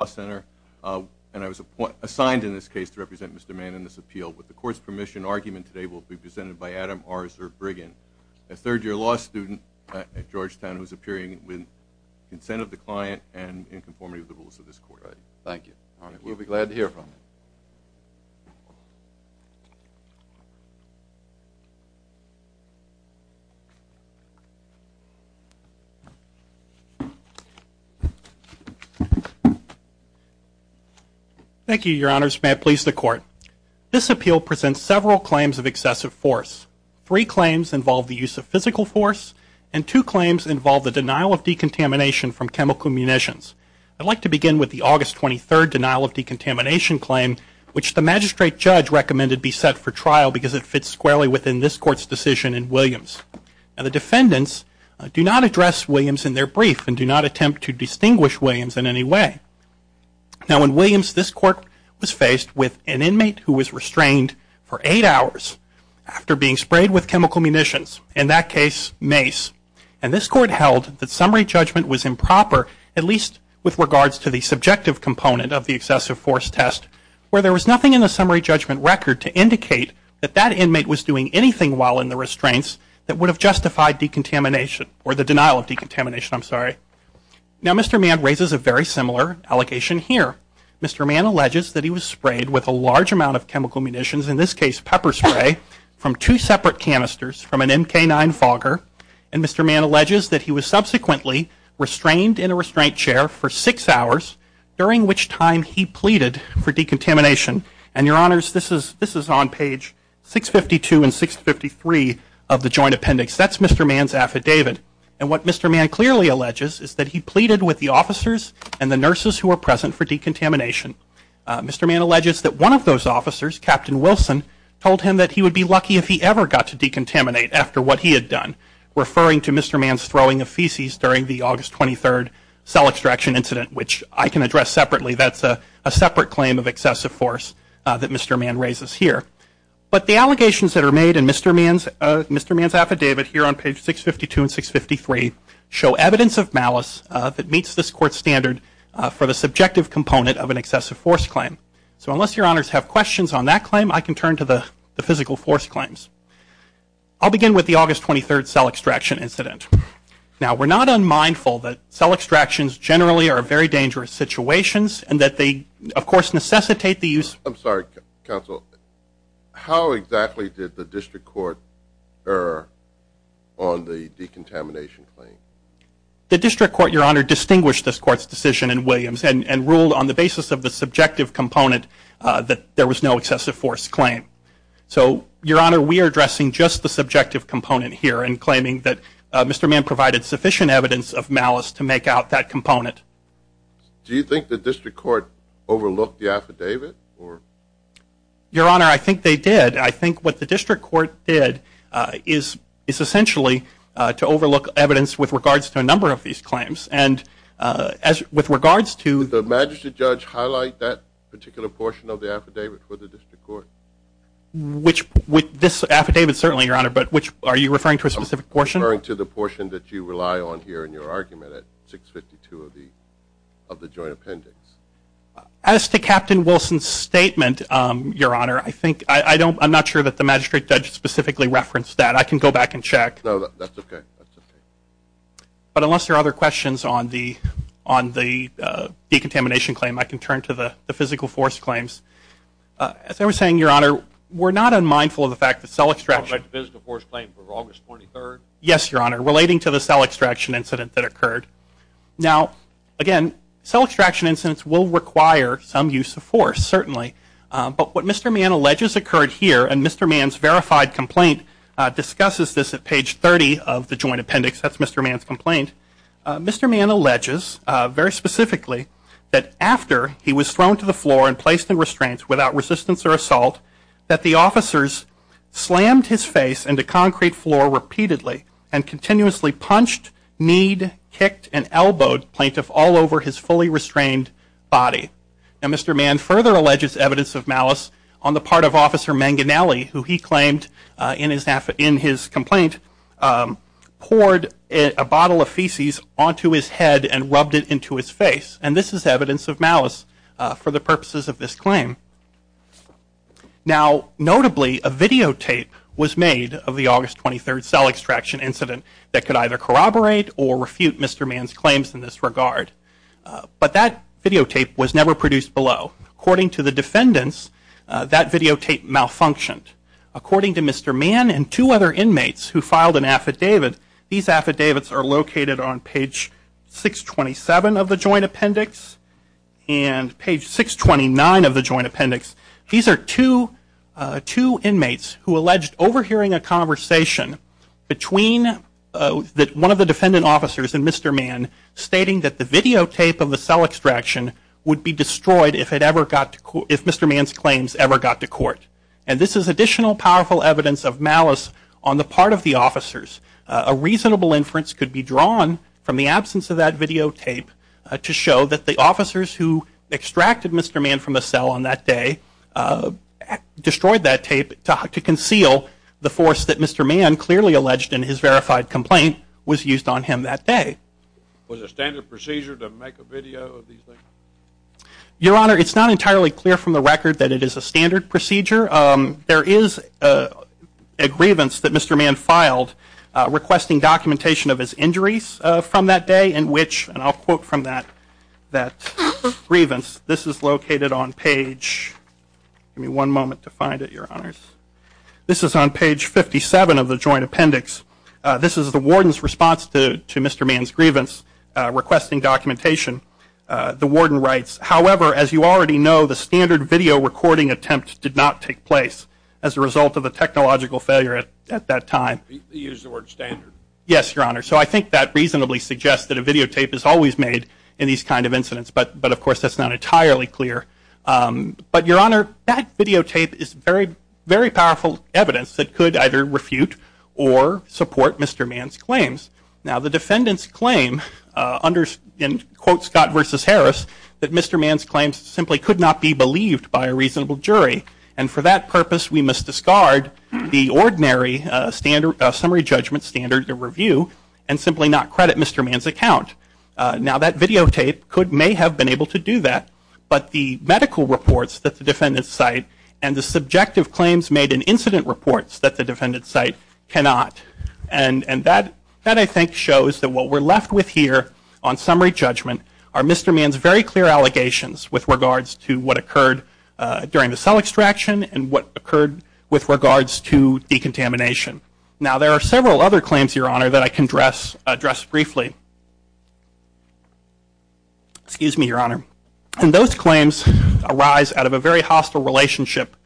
and I was assigned in this case to represent Mr. Mann in this appeal. With the court's permission, argument today will be presented by Adam Orser-Briggen, a third-year law student at Georgetown who is appearing with consent of the client and in conformity with the rules of this court. Thank you. We'll be glad to hear from you. Thank you, Your Honors. May it please the court. This appeal presents several claims of excessive force. Three claims involve the use of physical force, and two claims involve the denial of decontamination from chemical munitions. I'd like to begin with the August 23rd denial of decontamination claim, which the magistrate judge recommended be set for trial because it fits squarely within this court's decision in Williams. Now, the defendants do not address Williams in their brief and do not attempt to distinguish Williams in any way. Now, in Williams, this court was faced with an inmate who was restrained for eight hours after being sprayed with chemical munitions, in that case, mace. And this court held that summary judgment was improper, at least with regards to the subjective component of the excessive force test, where there was nothing in the summary judgment record to indicate that that inmate was doing anything while in the restraints that would have justified decontamination or the denial of decontamination, I'm sorry. Now, Mr. Mann raises a very similar allegation here. Mr. Mann alleges that he was sprayed with a large amount of chemical munitions, in this case, pepper spray, from two separate canisters from an MK-9 Fogger. And Mr. Mann alleges that he was subsequently restrained in a restraint chair for six hours, during which time he pleaded for decontamination. And, Your Honors, this is on page 652 and 653 of the Joint Appendix. That's Mr. Mann's affidavit. And what Mr. Mann clearly alleges is that he pleaded with the officers and the nurses who were present for decontamination. Mr. Mann alleges that one of those officers, Captain Wilson, told him that he would be lucky if he ever got to decontaminate after what he had done, referring to Mr. Mann's throwing of feces during the August 23rd cell extraction incident, which I can address separately. That's a separate claim of excessive force that Mr. Mann raises here. But the allegations that are made in Mr. Mann's affidavit, here on page 652 and 653, show evidence of malice that meets this Court's standard for the subjective component of an excessive force claim. So unless Your Honors have questions on that claim, I can turn to the physical force claims. I'll begin with the August 23rd cell extraction incident. Now, we're not unmindful that cell extractions generally are very dangerous situations and that they, of course, necessitate the use... I'm sorry, Counsel. How exactly did the District Court err on the decontamination claim? The District Court, Your Honor, distinguished this Court's decision in Williams and ruled on the basis of the subjective component that there was no excessive force claim. So, Your Honor, we are addressing just the subjective component here in claiming that Mr. Mann provided sufficient evidence of malice to make out that component. Do you think the District Court overlooked the affidavit? Your Honor, I think they did. I think what the District Court did is essentially to overlook evidence with regards to a number of these claims. With regards to... Did the Magistrate Judge highlight that particular portion of the affidavit for the District Court? Which... This affidavit, certainly, Your Honor, but which... Are you referring to a specific portion? I'm referring to the portion that you rely on here in your argument at 652 of the joint appendix. As to Captain Wilson's statement, Your Honor, I think... I don't... I'm not sure that the Magistrate Judge specifically referenced that. I can go back and check. No, that's okay. But unless there are other questions on the decontamination claim, I can turn to the physical force claims. As I was saying, Your Honor, we're not unmindful of the fact that cell extraction... The physical force claim for August 23rd? Yes, Your Honor, relating to the cell extraction incident that occurred. Now, again, cell extraction incidents will require some use of force, certainly. But what Mr. Mann alleges occurred here, and Mr. Mann's verified complaint discusses this at page 30 of the joint appendix. That's Mr. Mann's complaint. Mr. Mann alleges, very specifically, that after he was thrown to the floor and placed in restraints without resistance or assault, that the officers slammed his face into concrete floor repeatedly and continuously punched, kneed, kicked, and elbowed plaintiffs all over his fully restrained body. Now, Mr. Mann further alleges evidence of malice on the part of Officer Manganielli, who he claimed in his complaint poured a bottle of feces onto his head and rubbed it into his face, and this is evidence of malice for the purposes of this claim. Now, notably, a videotape was made of the August 23rd cell extraction incident that could either corroborate or refute Mr. Mann's claims in this regard. But that videotape was never produced below. According to the defendants, that videotape malfunctioned. According to Mr. Mann and two other inmates who filed an affidavit, these affidavits are located on page 627 of the Joint Appendix and page 629 of the Joint Appendix. These are two inmates who alleged overhearing a conversation between one of the defendant officers and Mr. Mann stating that the videotape of the cell extraction would be destroyed if Mr. Mann's claims ever got to court. And this is additional powerful evidence of malice on the part of the officers. A reasonable inference could be drawn from the absence of that videotape to show that the officers who extracted Mr. Mann from the cell on that day destroyed that tape to conceal the force that Mr. Mann clearly alleged in his verified complaint was used on him that day. Was a standard procedure to make a video of these things? Your Honor, it's not entirely clear from the record that it is a standard procedure. There is a grievance that Mr. Mann filed requesting documentation of his injuries from that day in which, and I'll quote from that grievance. This is located on page, give me one moment to find it, Your Honors. This is on page 57 of the Joint Appendix. This is the warden's response to Mr. Mann's grievance requesting documentation. The warden writes, however, as you already know, the standard video recording attempt did not take place as a result of the technological failure at that time. He used the word standard. Yes, Your Honor. So I think that reasonably suggests that a videotape is always made in these kind of incidents. But, of course, that's not entirely clear. But, Your Honor, that videotape is very, very powerful evidence that could either refute or support Mr. Mann's claims. Now, the defendant's claim, in quote Scott versus Harris, that Mr. Mann's claims simply could not be believed by a reasonable jury. And for that purpose, we must discard the ordinary summary judgment standard review and simply not credit Mr. Mann's account. Now, that videotape may have been able to do that, but the medical reports that the defendant's cite and the subjective claims made in incident reports that the defendant's cite cannot. And that, I think, shows that what we're left with here on summary judgment are Mr. Mann's very clear allegations with regards to what occurred during the cell extraction and what occurred with regards to decontamination. Now, there are several other claims, Your Honor, that I can address briefly. Excuse me, Your Honor. And those claims arise out of a very hostile relationship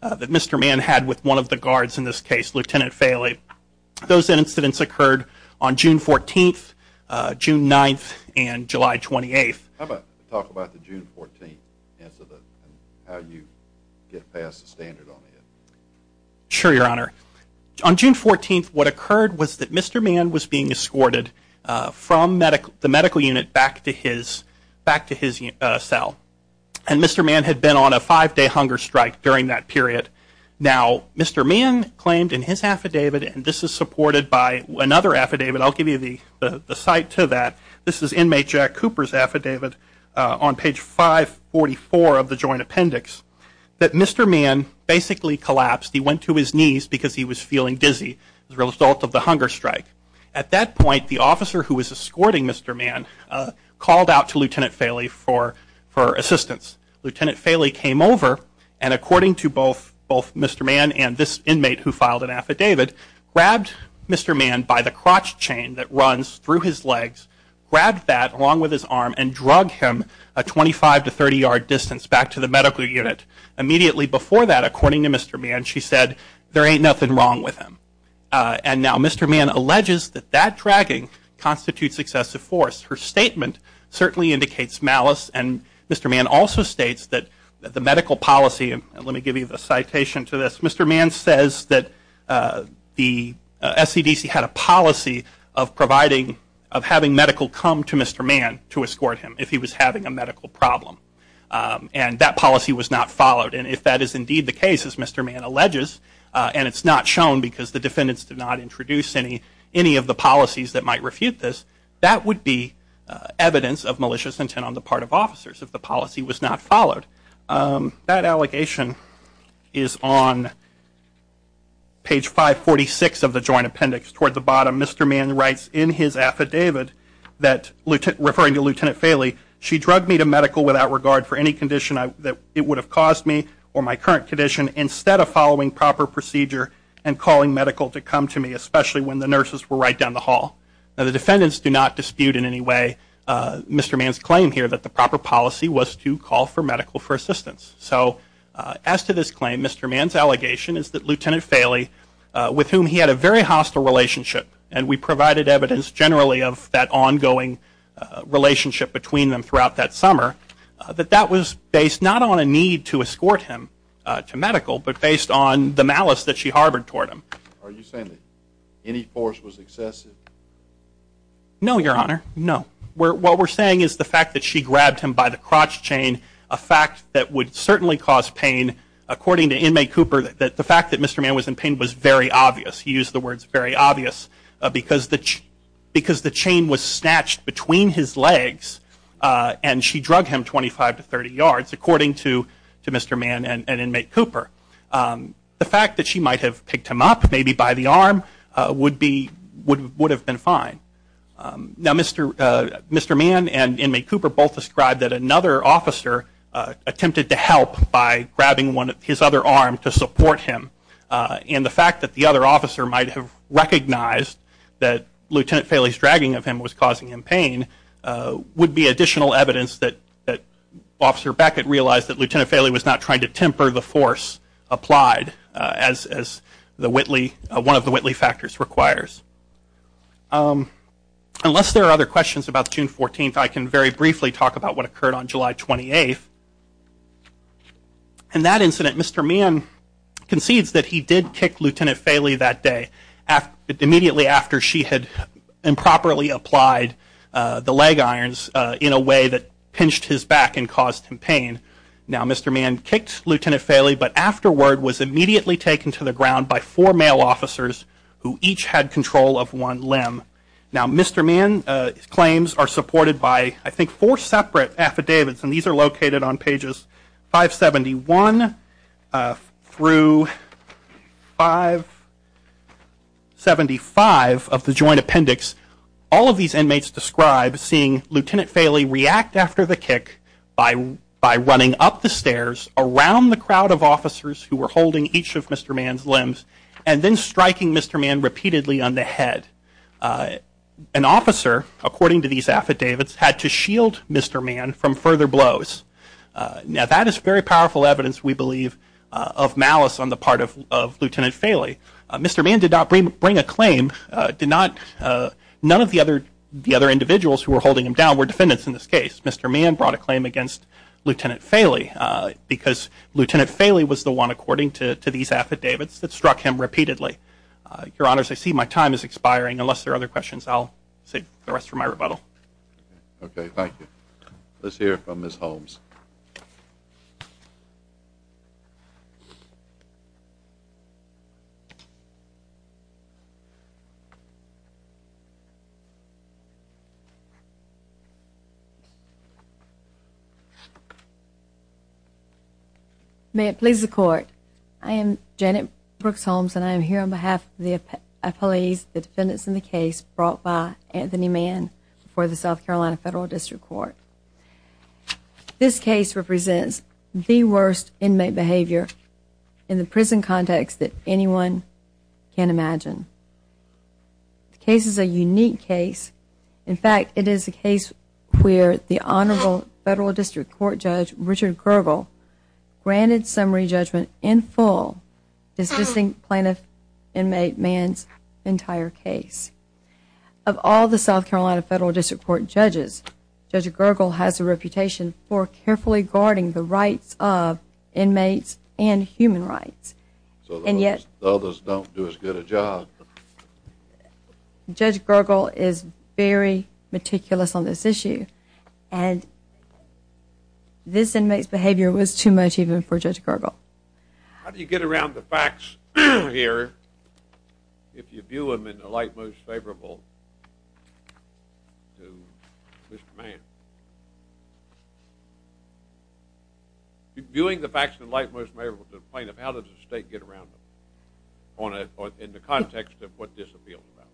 that Mr. Mann had with one of the guards in this case, Lieutenant Faley. Those incidents occurred on June 14th, June 9th, and July 28th. How about we talk about the June 14th incident and how you get past the standard on it? Sure, Your Honor. On June 14th, what occurred was that Mr. Mann was being escorted from the medical unit back to his cell. And Mr. Mann had been on a five-day hunger strike during that period. Now, Mr. Mann claimed in his affidavit, and this is supported by another affidavit. I'll give you the cite to that. This is inmate Jack Cooper's affidavit on page 544 of the joint appendix, that Mr. Mann basically collapsed. He went to his knees because he was feeling dizzy as a result of the hunger strike. At that point, the officer who was escorting Mr. Mann called out to Lieutenant Faley for assistance. Lieutenant Faley came over, and according to both Mr. Mann and this inmate who filed an affidavit, grabbed Mr. Mann by the crotch chain that runs through his legs, grabbed that along with his arm, and drug him a 25 to 30-yard distance back to the medical unit. Immediately before that, according to Mr. Mann, she said, there ain't nothing wrong with him. And now Mr. Mann alleges that that dragging constitutes excessive force. Her statement certainly indicates malice, and Mr. Mann also states that the medical policy, and let me give you the citation to this, Mr. Mann says that the SCDC had a policy of providing, of having medical come to Mr. Mann to escort him if he was having a medical problem. And that policy was not followed, and if that is indeed the case, as Mr. Mann alleges, and it's not shown because the defendants did not introduce any of the policies that might refute this, that would be evidence of malicious intent on the part of officers if the policy was not followed. That allegation is on page 546 of the joint appendix. Toward the bottom, Mr. Mann writes in his affidavit, referring to Lieutenant Faley, she drug me to medical without regard for any condition that it would have caused me, or my current condition, instead of following proper procedure and calling medical to come to me, especially when the nurses were right down the hall. Now the defendants do not dispute in any way Mr. Mann's claim here that the proper policy was to call for medical for assistance. So as to this claim, Mr. Mann's allegation is that Lieutenant Faley, with whom he had a very hostile relationship, and we provided evidence generally of that ongoing relationship between them throughout that summer, that that was based not on a need to escort him to medical, but based on the malice that she harbored toward him. Are you saying that any force was excessive? No, Your Honor, no. What we're saying is the fact that she grabbed him by the crotch chain, a fact that would certainly cause pain. According to inmate Cooper, the fact that Mr. Mann was in pain was very obvious. He used the words very obvious because the chain was snatched between his legs and she drug him 25 to 30 yards, according to Mr. Mann and inmate Cooper. The fact that she might have picked him up, maybe by the arm, would have been fine. Now Mr. Mann and inmate Cooper both described that another officer attempted to help by grabbing his other arm to support him. And the fact that the other officer might have recognized that Lieutenant Faley's dragging of him was causing him pain would be additional evidence that Officer Beckett realized that Lieutenant Faley was not trying to temper the force applied, as one of the Whitley factors requires. Unless there are other questions about June 14th, I can very briefly talk about what occurred on July 28th. In that incident, Mr. Mann concedes that he did kick Lieutenant Faley that day, immediately after she had improperly applied the leg irons in a way that pinched his back and caused him pain. Now Mr. Mann kicked Lieutenant Faley but afterward was immediately taken to the ground by four male officers who each had control of one limb. Now Mr. Mann's claims are supported by I think four separate affidavits and these are located on pages 571 through 575 of the joint appendix. All of these inmates describe seeing Lieutenant Faley react after the kick by running up the stairs around the crowd of officers who were holding each of Mr. Mann's limbs and then striking Mr. Mann repeatedly on the head. An officer, according to these affidavits, had to shield Mr. Mann from further blows. Now that is very powerful evidence, we believe, of malice on the part of Lieutenant Faley. Mr. Mann did not bring a claim. None of the other individuals who were holding him down were defendants in this case. Mr. Mann brought a claim against Lieutenant Faley because Lieutenant Faley was the one, according to these affidavits, that struck him repeatedly. Your Honors, I see my time is expiring. Unless there are other questions, I'll save the rest for my rebuttal. Okay, thank you. Let's hear from Ms. Holmes. May it please the Court, I am Janet Brooks Holmes and I am here on behalf of the defendants in the case brought by Anthony Mann before the South Carolina Federal District Court. This case represents the worst inmate behavior in the prison context that anyone can imagine. The case is a unique case. In fact, it is a case where the Honorable Federal District Court Judge, Richard Gergel, granted summary judgment in full, dismissing plaintiff, inmate, Mann's entire case. Of all the South Carolina Federal District Court judges, Judge Gergel has a reputation for carefully guarding the rights of inmates and human rights. So the others don't do as good a job. Judge Gergel is very meticulous on this issue and this inmate's behavior was too much even for Judge Gergel. How do you get around the facts here if you view them in the light most favorable to Mr. Mann? Viewing the facts in the light most favorable to the plaintiff, how does the State get around them? In the context of what this appeals about.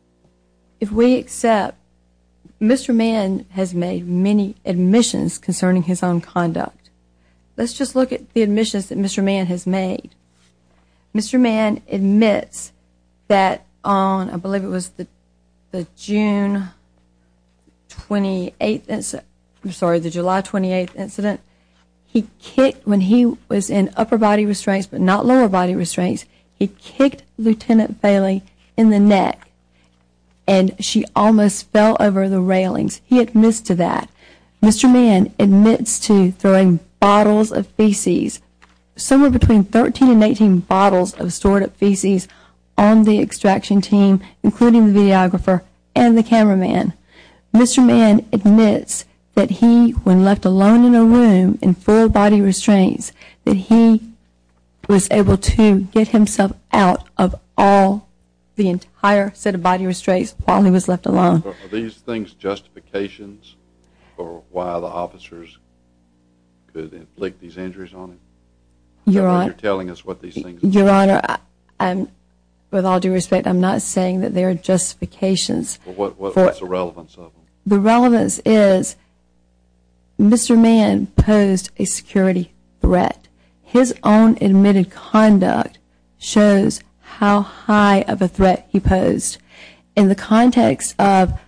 If we accept, Mr. Mann has made many admissions concerning his own conduct. Let's just look at the admissions that Mr. Mann has made. Mr. Mann admits that on, I believe it was the June 28th, I'm sorry, the July 28th incident, he kicked, when he was in upper body restraints but not lower body restraints, he kicked Lieutenant Bailey in the neck and she almost fell over the railings. He admits to that. Mr. Mann admits to throwing bottles of feces, somewhere between 13 and 18 bottles of stored up feces on the extraction team, including the videographer and the cameraman. Mr. Mann admits that he, when left alone in a room in full body restraints, that he was able to get himself out of all the entire set of body restraints while he was left alone. Are these things justifications for why the officers could inflict these injuries on him? Your Honor, with all due respect, I'm not saying that they are justifications. What's the relevance of them? The relevance is Mr. Mann posed a security threat. His own admitted conduct shows how high of a threat he posed. In the context of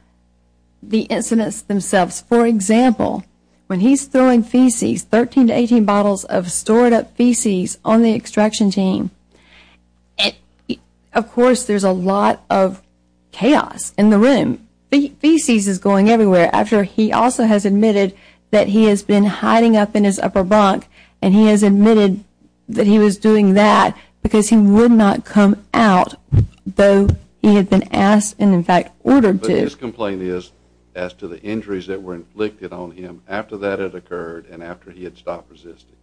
the incidents themselves, for example, when he's throwing feces, 13 to 18 bottles of stored up feces on the extraction team, of course there's a lot of chaos in the room. Feces is going everywhere. After he also has admitted that he has been hiding up in his upper bunk and he has admitted that he was doing that because he would not come out though he had been asked and in fact ordered to. But his complaint is as to the injuries that were inflicted on him after that had occurred and after he had stopped resisting.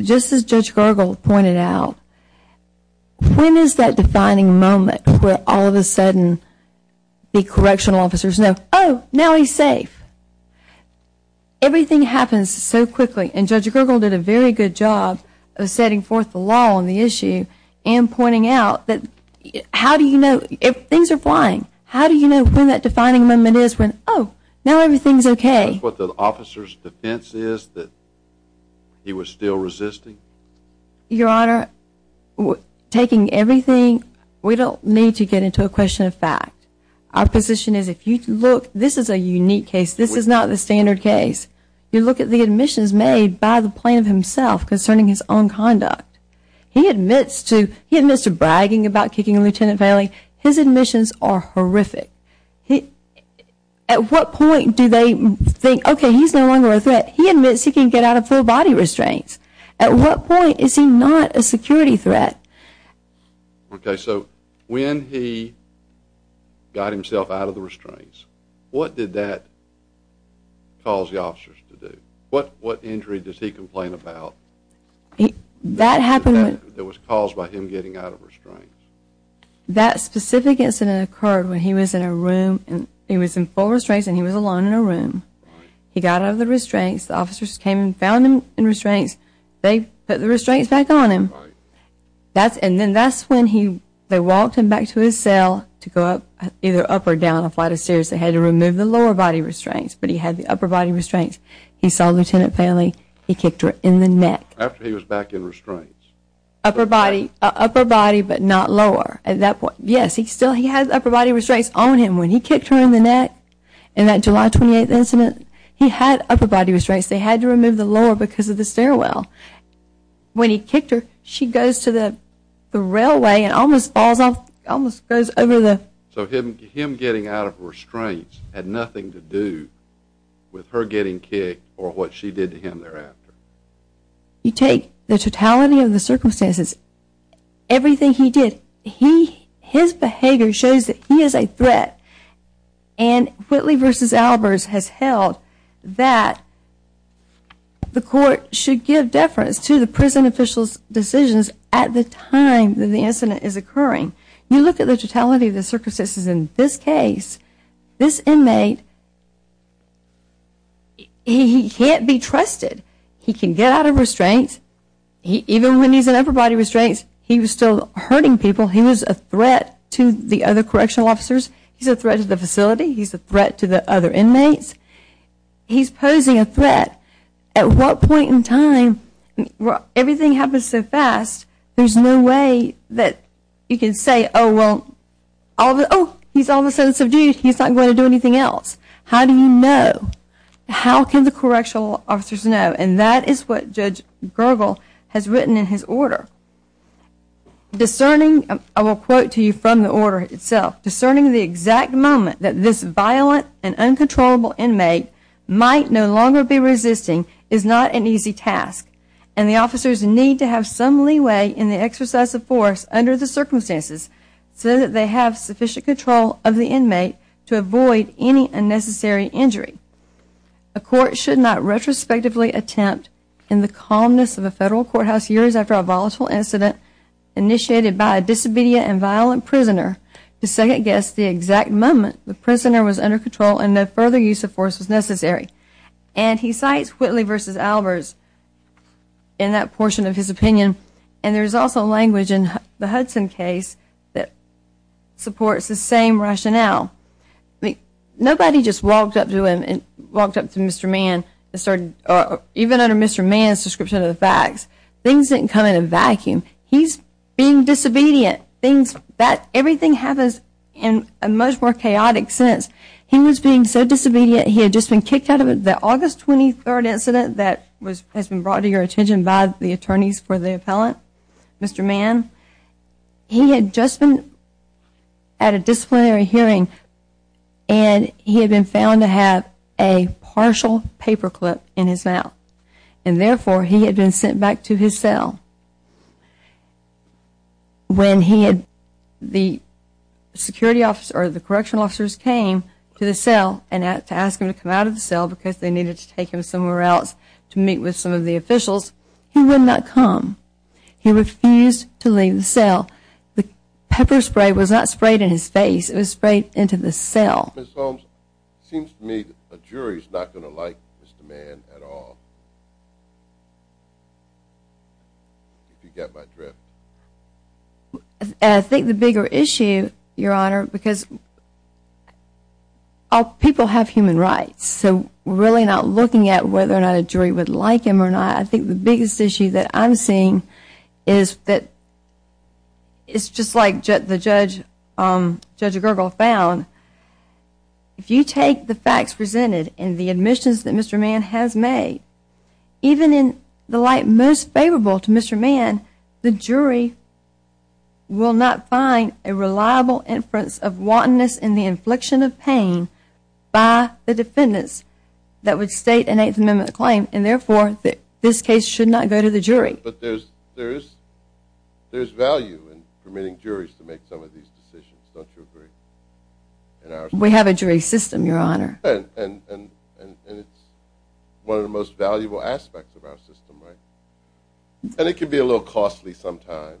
Just as Judge Gergel pointed out, when is that defining moment where all of a sudden the correctional officers know, oh, now he's safe? Everything happens so quickly, and Judge Gergel did a very good job of setting forth the law on the issue and pointing out that how do you know if things are flying? How do you know when that defining moment is when, oh, now everything's okay? Is that what the officer's defense is that he was still resisting? Your Honor, taking everything, we don't need to get into a question of fact. Our position is if you look, this is a unique case. This is not the standard case. You look at the admissions made by the plaintiff himself concerning his own conduct. He admits to bragging about kicking a lieutenant family. His admissions are horrific. At what point do they think, okay, he's no longer a threat? He admits he can get out of full body restraints. At what point is he not a security threat? Okay, so when he got himself out of the restraints, what did that cause the officers to do? What injury does he complain about? That happened. That was caused by him getting out of restraints. That specific incident occurred when he was in a room, and he was in full restraints and he was alone in a room. He got out of the restraints. The officers came and found him in restraints. They put the restraints back on him. And then that's when they walked him back to his cell to go up, either up or down a flight of stairs. They had to remove the lower body restraints, but he had the upper body restraints. He saw a lieutenant family. He kicked her in the neck. After he was back in restraints. Upper body, but not lower. At that point, yes, he still had upper body restraints on him. When he kicked her in the neck in that July 28th incident, he had upper body restraints. They had to remove the lower because of the stairwell. When he kicked her, she goes to the railway and almost falls off, almost goes over the. So him getting out of restraints had nothing to do with her getting kicked or what she did to him thereafter. You take the totality of the circumstances, everything he did, his behavior shows that he is a threat. And Whitley v. Albers has held that the court should give deference to the prison official's decisions at the time that the incident is occurring. You look at the totality of the circumstances in this case, this inmate, he can't be trusted. He can get out of restraints. Even when he's in upper body restraints, he was still hurting people. He was a threat to the other correctional officers. He's a threat to the facility. He's a threat to the other inmates. He's posing a threat. At what point in time, everything happens so fast, there's no way that you can say, oh, well, he's all of a sudden subdued, he's not going to do anything else. How do you know? How can the correctional officers know? And that is what Judge Gergel has written in his order. Discerning, I will quote to you from the order itself, discerning the exact moment that this violent and uncontrollable inmate might no longer be resisting is not an easy task, and the officers need to have some leeway in the exercise of force under the circumstances so that they have sufficient control of the inmate to avoid any unnecessary injury. A court should not retrospectively attempt, in the calmness of a federal courthouse years after a volatile incident initiated by a disobedient and violent prisoner, to second guess the exact moment the prisoner was under control and no further use of force was necessary. And he cites Whitley v. Albers in that portion of his opinion, and there's also language in the Hudson case that supports the same rationale. Nobody just walked up to him, walked up to Mr. Mann, even under Mr. Mann's description of the facts, things didn't come in a vacuum. He's being disobedient. Everything happens in a much more chaotic sense. He was being so disobedient he had just been kicked out of it. The August 23 incident that has been brought to your attention by the attorneys for the appellant, Mr. Mann, he had just been at a disciplinary hearing and he had been found to have a partial paperclip in his mouth, and therefore he had been sent back to his cell. When the correctional officers came to the cell and asked him to come out of the cell because they needed to take him somewhere else to meet with some of the officials, he would not come. He refused to leave the cell. The pepper spray was not sprayed in his face. It was sprayed into the cell. Ms. Holmes, it seems to me that a jury is not going to like Mr. Mann at all. If you get my drift. I think the bigger issue, Your Honor, because people have human rights, so we're really not looking at whether or not a jury would like him or not. I think the biggest issue that I'm seeing is that it's just like Judge Gergel found. If you take the facts presented and the admissions that Mr. Mann has made, even in the light most favorable to Mr. Mann, the jury will not find a reliable inference of wantonness and the infliction of pain by the defendants that would state an Eighth Amendment claim and therefore this case should not go to the jury. But there's value in permitting juries to make some of these decisions. Don't you agree? We have a jury system, Your Honor. And it's one of the most valuable aspects of our system, right? And it can be a little costly sometimes.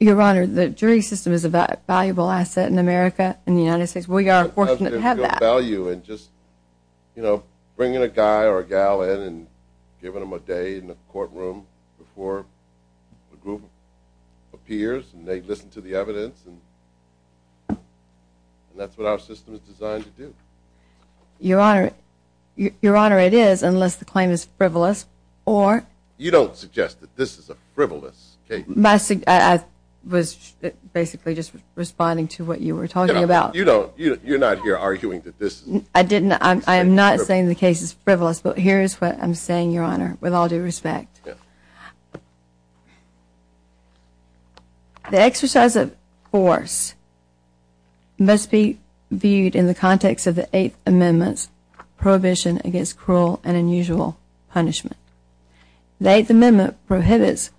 Your Honor, the jury system is a valuable asset in America and the United States. We are fortunate to have that. And just bringing a guy or a gal in and giving them a day in the courtroom before a group appears and they listen to the evidence. And that's what our system is designed to do. Your Honor, it is, unless the claim is frivolous. You don't suggest that this is a frivolous case. I was basically just responding to what you were talking about. You're not here arguing that this is a frivolous case. I am not saying the case is frivolous. But here is what I'm saying, Your Honor, with all due respect. The exercise of force must be viewed in the context of the Eighth Amendment's prohibition against cruel and unusual punishment. The Eighth Amendment prohibits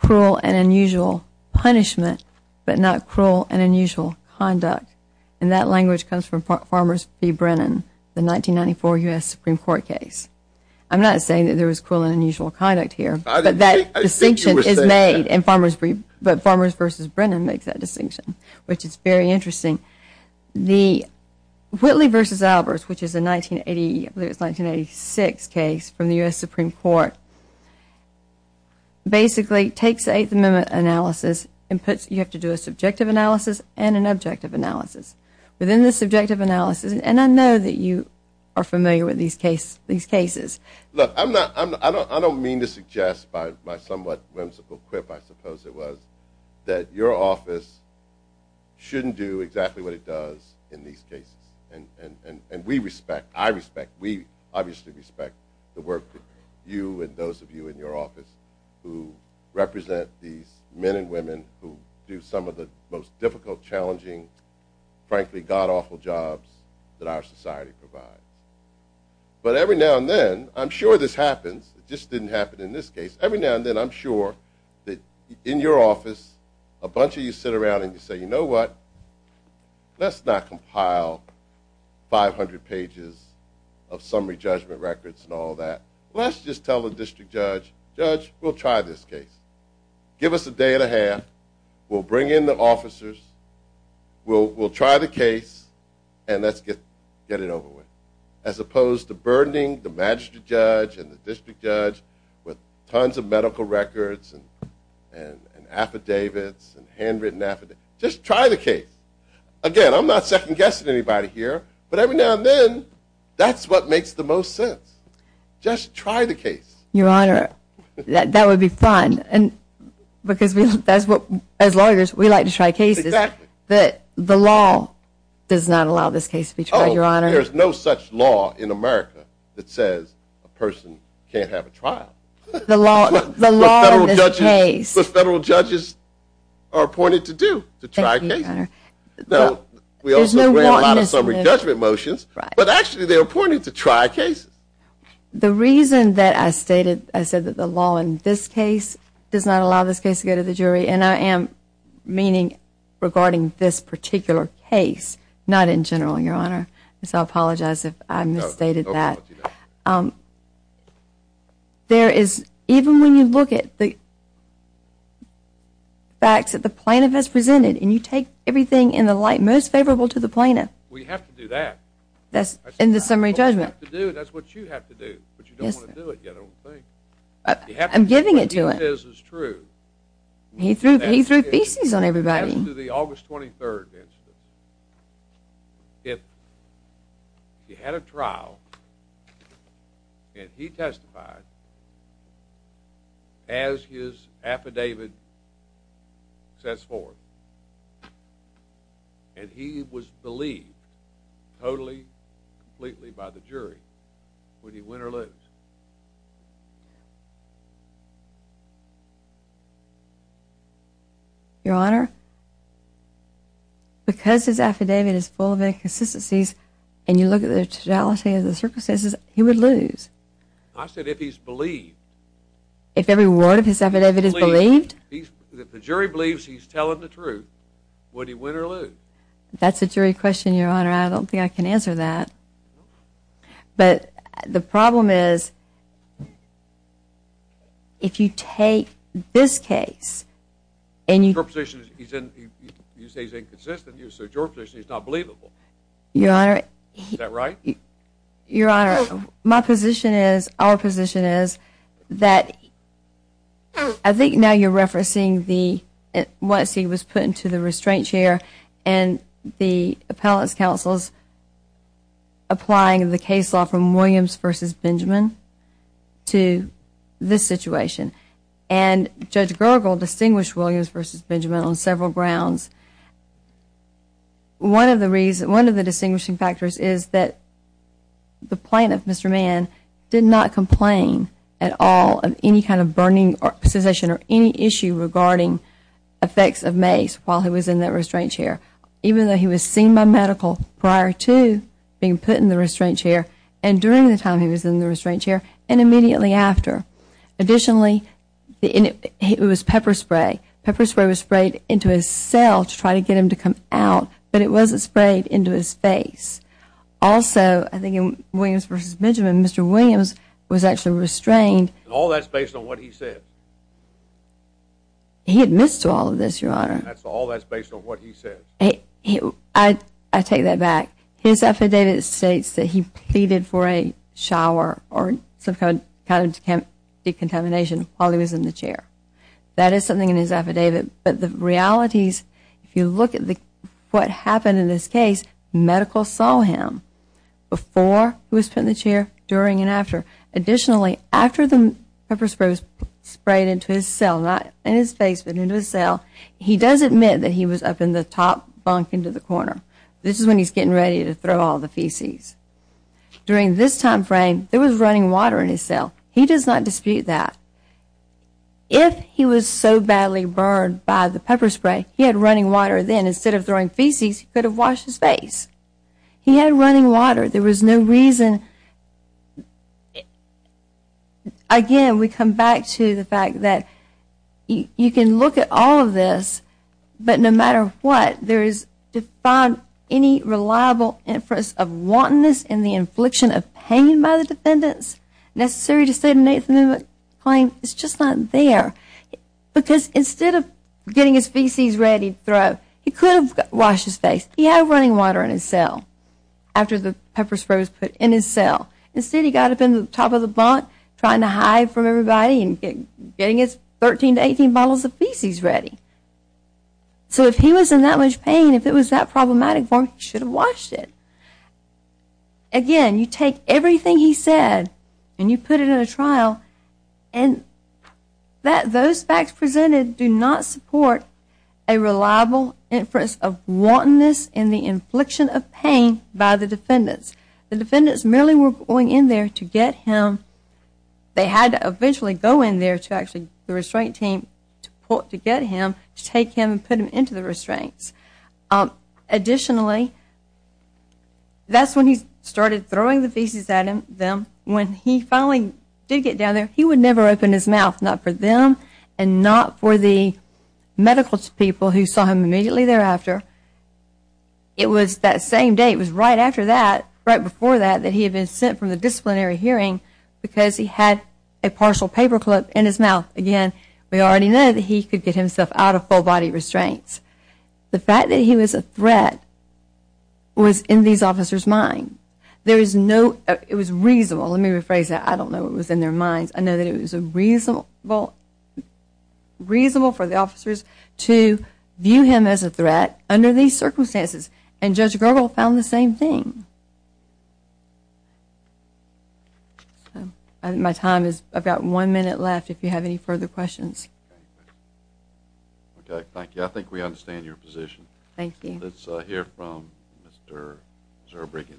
cruel and unusual punishment, but not cruel and unusual conduct. And that language comes from Farmers v. Brennan, the 1994 U.S. Supreme Court case. I'm not saying that there was cruel and unusual conduct here, but that distinction is made in Farmers v. Brennan makes that distinction, which is very interesting. The Whitley v. Albers, which is a 1986 case from the U.S. Supreme Court, basically takes the Eighth Amendment analysis and puts you have to do a subjective analysis and an objective analysis. Within the subjective analysis, and I know that you are familiar with these cases, Look, I don't mean to suggest by somewhat whimsical quip, I suppose it was, that your office shouldn't do exactly what it does in these cases. And we respect, I respect, we obviously respect the work that you and those of you in your office who represent these men and women who do some of the most difficult, challenging, frankly, god-awful jobs that our society provides. But every now and then, I'm sure this happens, it just didn't happen in this case, every now and then I'm sure that in your office, a bunch of you sit around and say, you know what, let's not compile 500 pages of summary judgment records and all that. Let's just tell the district judge, judge, we'll try this case. Give us a day and a half, we'll bring in the officers, we'll try the case, and let's get it over with. As opposed to burdening the magistrate judge and the district judge with tons of medical records and affidavits and handwritten affidavits. Just try the case. Again, I'm not second-guessing anybody here, but every now and then, that's what makes the most sense. Just try the case. Your Honor, that would be fun because that's what, as lawyers, we like to try cases. Exactly. But the law does not allow this case to be tried, Your Honor. Oh, there's no such law in America that says a person can't have a trial. The law in this case. The federal judges are appointed to do, to try cases. Thank you, Your Honor. We also grant a lot of summary judgment motions, but actually they're appointed to try cases. The reason that I stated, I said that the law in this case does not allow this case to go to the jury, and I am meaning regarding this particular case, not in general, Your Honor, so I apologize if I misstated that. No, no apology there. There is, even when you look at the facts that the plaintiff has presented and you take everything in the light most favorable to the plaintiff. We have to do that. In the summary judgment. You have to do it. That's what you have to do, but you don't want to do it yet, I don't think. I'm giving it to him. What he says is true. He threw feces on everybody. As to the August 23rd instance, if you had a trial and he testified as his affidavit says forth, and he was believed totally, completely by the jury, would he win or lose? Your Honor, because his affidavit is full of inconsistencies and you look at the totality of the circumstances, he would lose. I said if he's believed. If every word of his affidavit is believed? If the jury believes he's telling the truth, would he win or lose? That's a jury question, Your Honor. I don't think I can answer that. But the problem is if you take this case and you... Your position is you say he's inconsistent, so your position is not believable. Your Honor. Is that right? Your Honor, my position is.. .our position is that... I think now you're referencing the... once he was put into the restraint chair and the appellate's counsel is applying the case law from Williams v. Benjamin to this situation. And Judge Gergel distinguished Williams v. Benjamin on several grounds. One of the distinguishing factors is that the plaintiff, Mr. Mann, did not complain at all of any kind of burning sensation or any issue regarding effects of mace while he was in that restraint chair, even though he was seen by medical prior to being put in the restraint chair and during the time he was in the restraint chair and immediately after. Additionally, it was pepper spray. Pepper spray was sprayed into his cell to try to get him to come out, but it wasn't sprayed into his face. Also, I think in Williams v. Benjamin, Mr. Williams was actually restrained. And all that's based on what he said? He admits to all of this, Your Honor. And that's all that's based on what he said? I take that back. His affidavit states that he pleaded for a shower or some kind of decontamination while he was in the chair. That is something in his affidavit. But the reality is if you look at what happened in this case, medical saw him before he was put in the chair, during and after. Additionally, after the pepper spray was sprayed into his cell, not in his face but into his cell, he does admit that he was up in the top bunk into the corner. This is when he's getting ready to throw all the feces. During this time frame, there was running water in his cell. He does not dispute that. If he was so badly burned by the pepper spray, he had running water then. Instead of throwing feces, he could have washed his face. He had running water. There was no reason. Again, we come back to the fact that you can look at all of this, but no matter what, there is defined any reliable inference of wantonness and the infliction of pain by the defendants necessary to state a negative claim. It's just not there. Because instead of getting his feces ready to throw, he could have washed his face. He had running water in his cell after the pepper spray was put in his cell. Instead, he got up in the top of the bunk trying to hide from everybody and getting his 13 to 18 bottles of feces ready. So if he was in that much pain, if it was that problematic for him, he should have washed it. Again, you take everything he said and you put it in a trial, and those facts presented do not support a reliable inference of wantonness and the infliction of pain by the defendants. The defendants merely were going in there to get him. They had to eventually go in there to actually the restraint team to get him, to take him and put him into the restraints. Additionally, that's when he started throwing the feces at them. When he finally did get down there, he would never open his mouth, not for them and not for the medical people who saw him immediately thereafter. It was that same day, it was right after that, right before that, that he had been sent for the disciplinary hearing because he had a partial paper clip in his mouth. Again, we already know that he could get himself out of full body restraints. The fact that he was a threat was in these officers' minds. It was reasonable. Let me rephrase that. I don't know what was in their minds. I know that it was reasonable for the officers to view him as a threat under these circumstances, and Judge Gergel found the same thing. My time is about one minute left if you have any further questions. Okay, thank you. I think we understand your position. Thank you. Let's hear from Mr. Zerbruggen.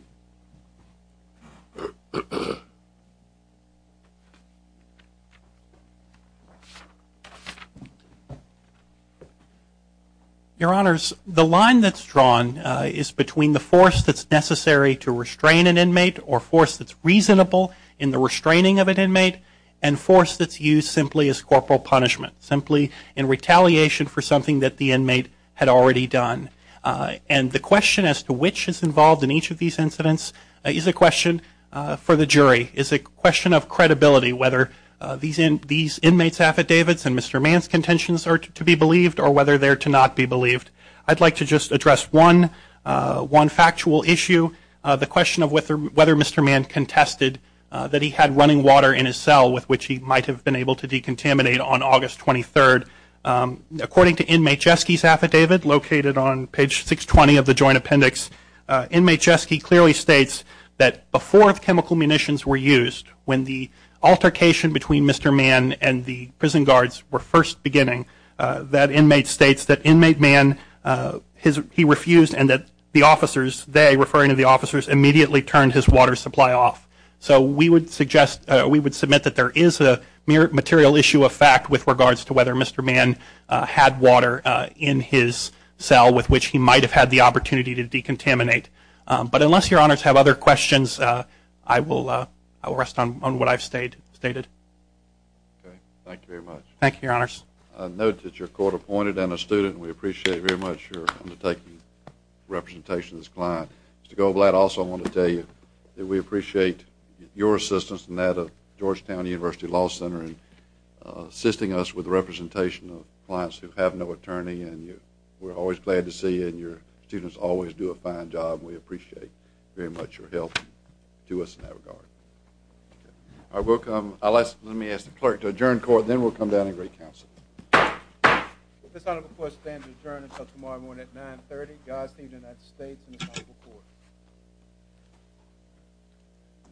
Your Honors, the line that's drawn is between the force that's necessary to restrain an inmate or force that's reasonable in the restraining of an inmate and force that's used simply as corporal punishment, simply in retaliation for something that the inmate had already done. And the question as to which is involved in each of these incidents is a question for the jury, is a question of credibility, whether these inmates' affidavits and Mr. Mann's contentions are to be believed or whether they're to not be believed. I'd like to just address one factual issue, the question of whether Mr. Mann contested that he had running water in his cell with which he might have been able to decontaminate on August 23rd. According to inmate Jeske's affidavit, located on page 620 of the Joint Appendix, inmate Jeske clearly states that before chemical munitions were used, when the altercation between Mr. Mann and the prison guards were first beginning, that inmate states that inmate Mann, he refused, and that the officers, they, referring to the officers, immediately turned his water supply off. So we would submit that there is a mere material issue of fact with regards to whether Mr. Mann had water in his cell with which he might have had the opportunity to decontaminate. But unless Your Honors have other questions, I will rest on what I've stated. Thank you very much. Thank you, Your Honors. I note that you're court-appointed and a student, and we appreciate very much your undertaking representation of this client. Mr. Goldblatt, I also want to tell you that we appreciate your assistance in that of Georgetown University Law Center in assisting us with the representation of clients who have no attorney, and we're always glad to see you, and your students always do a fine job, and we appreciate very much your help to us in that regard. I will come, unless, let me ask the clerk to adjourn court, then we'll come down and greet counsel. This honorable court stands adjourned until tomorrow morning at 9.30, Godspeed to the United States and this honorable court.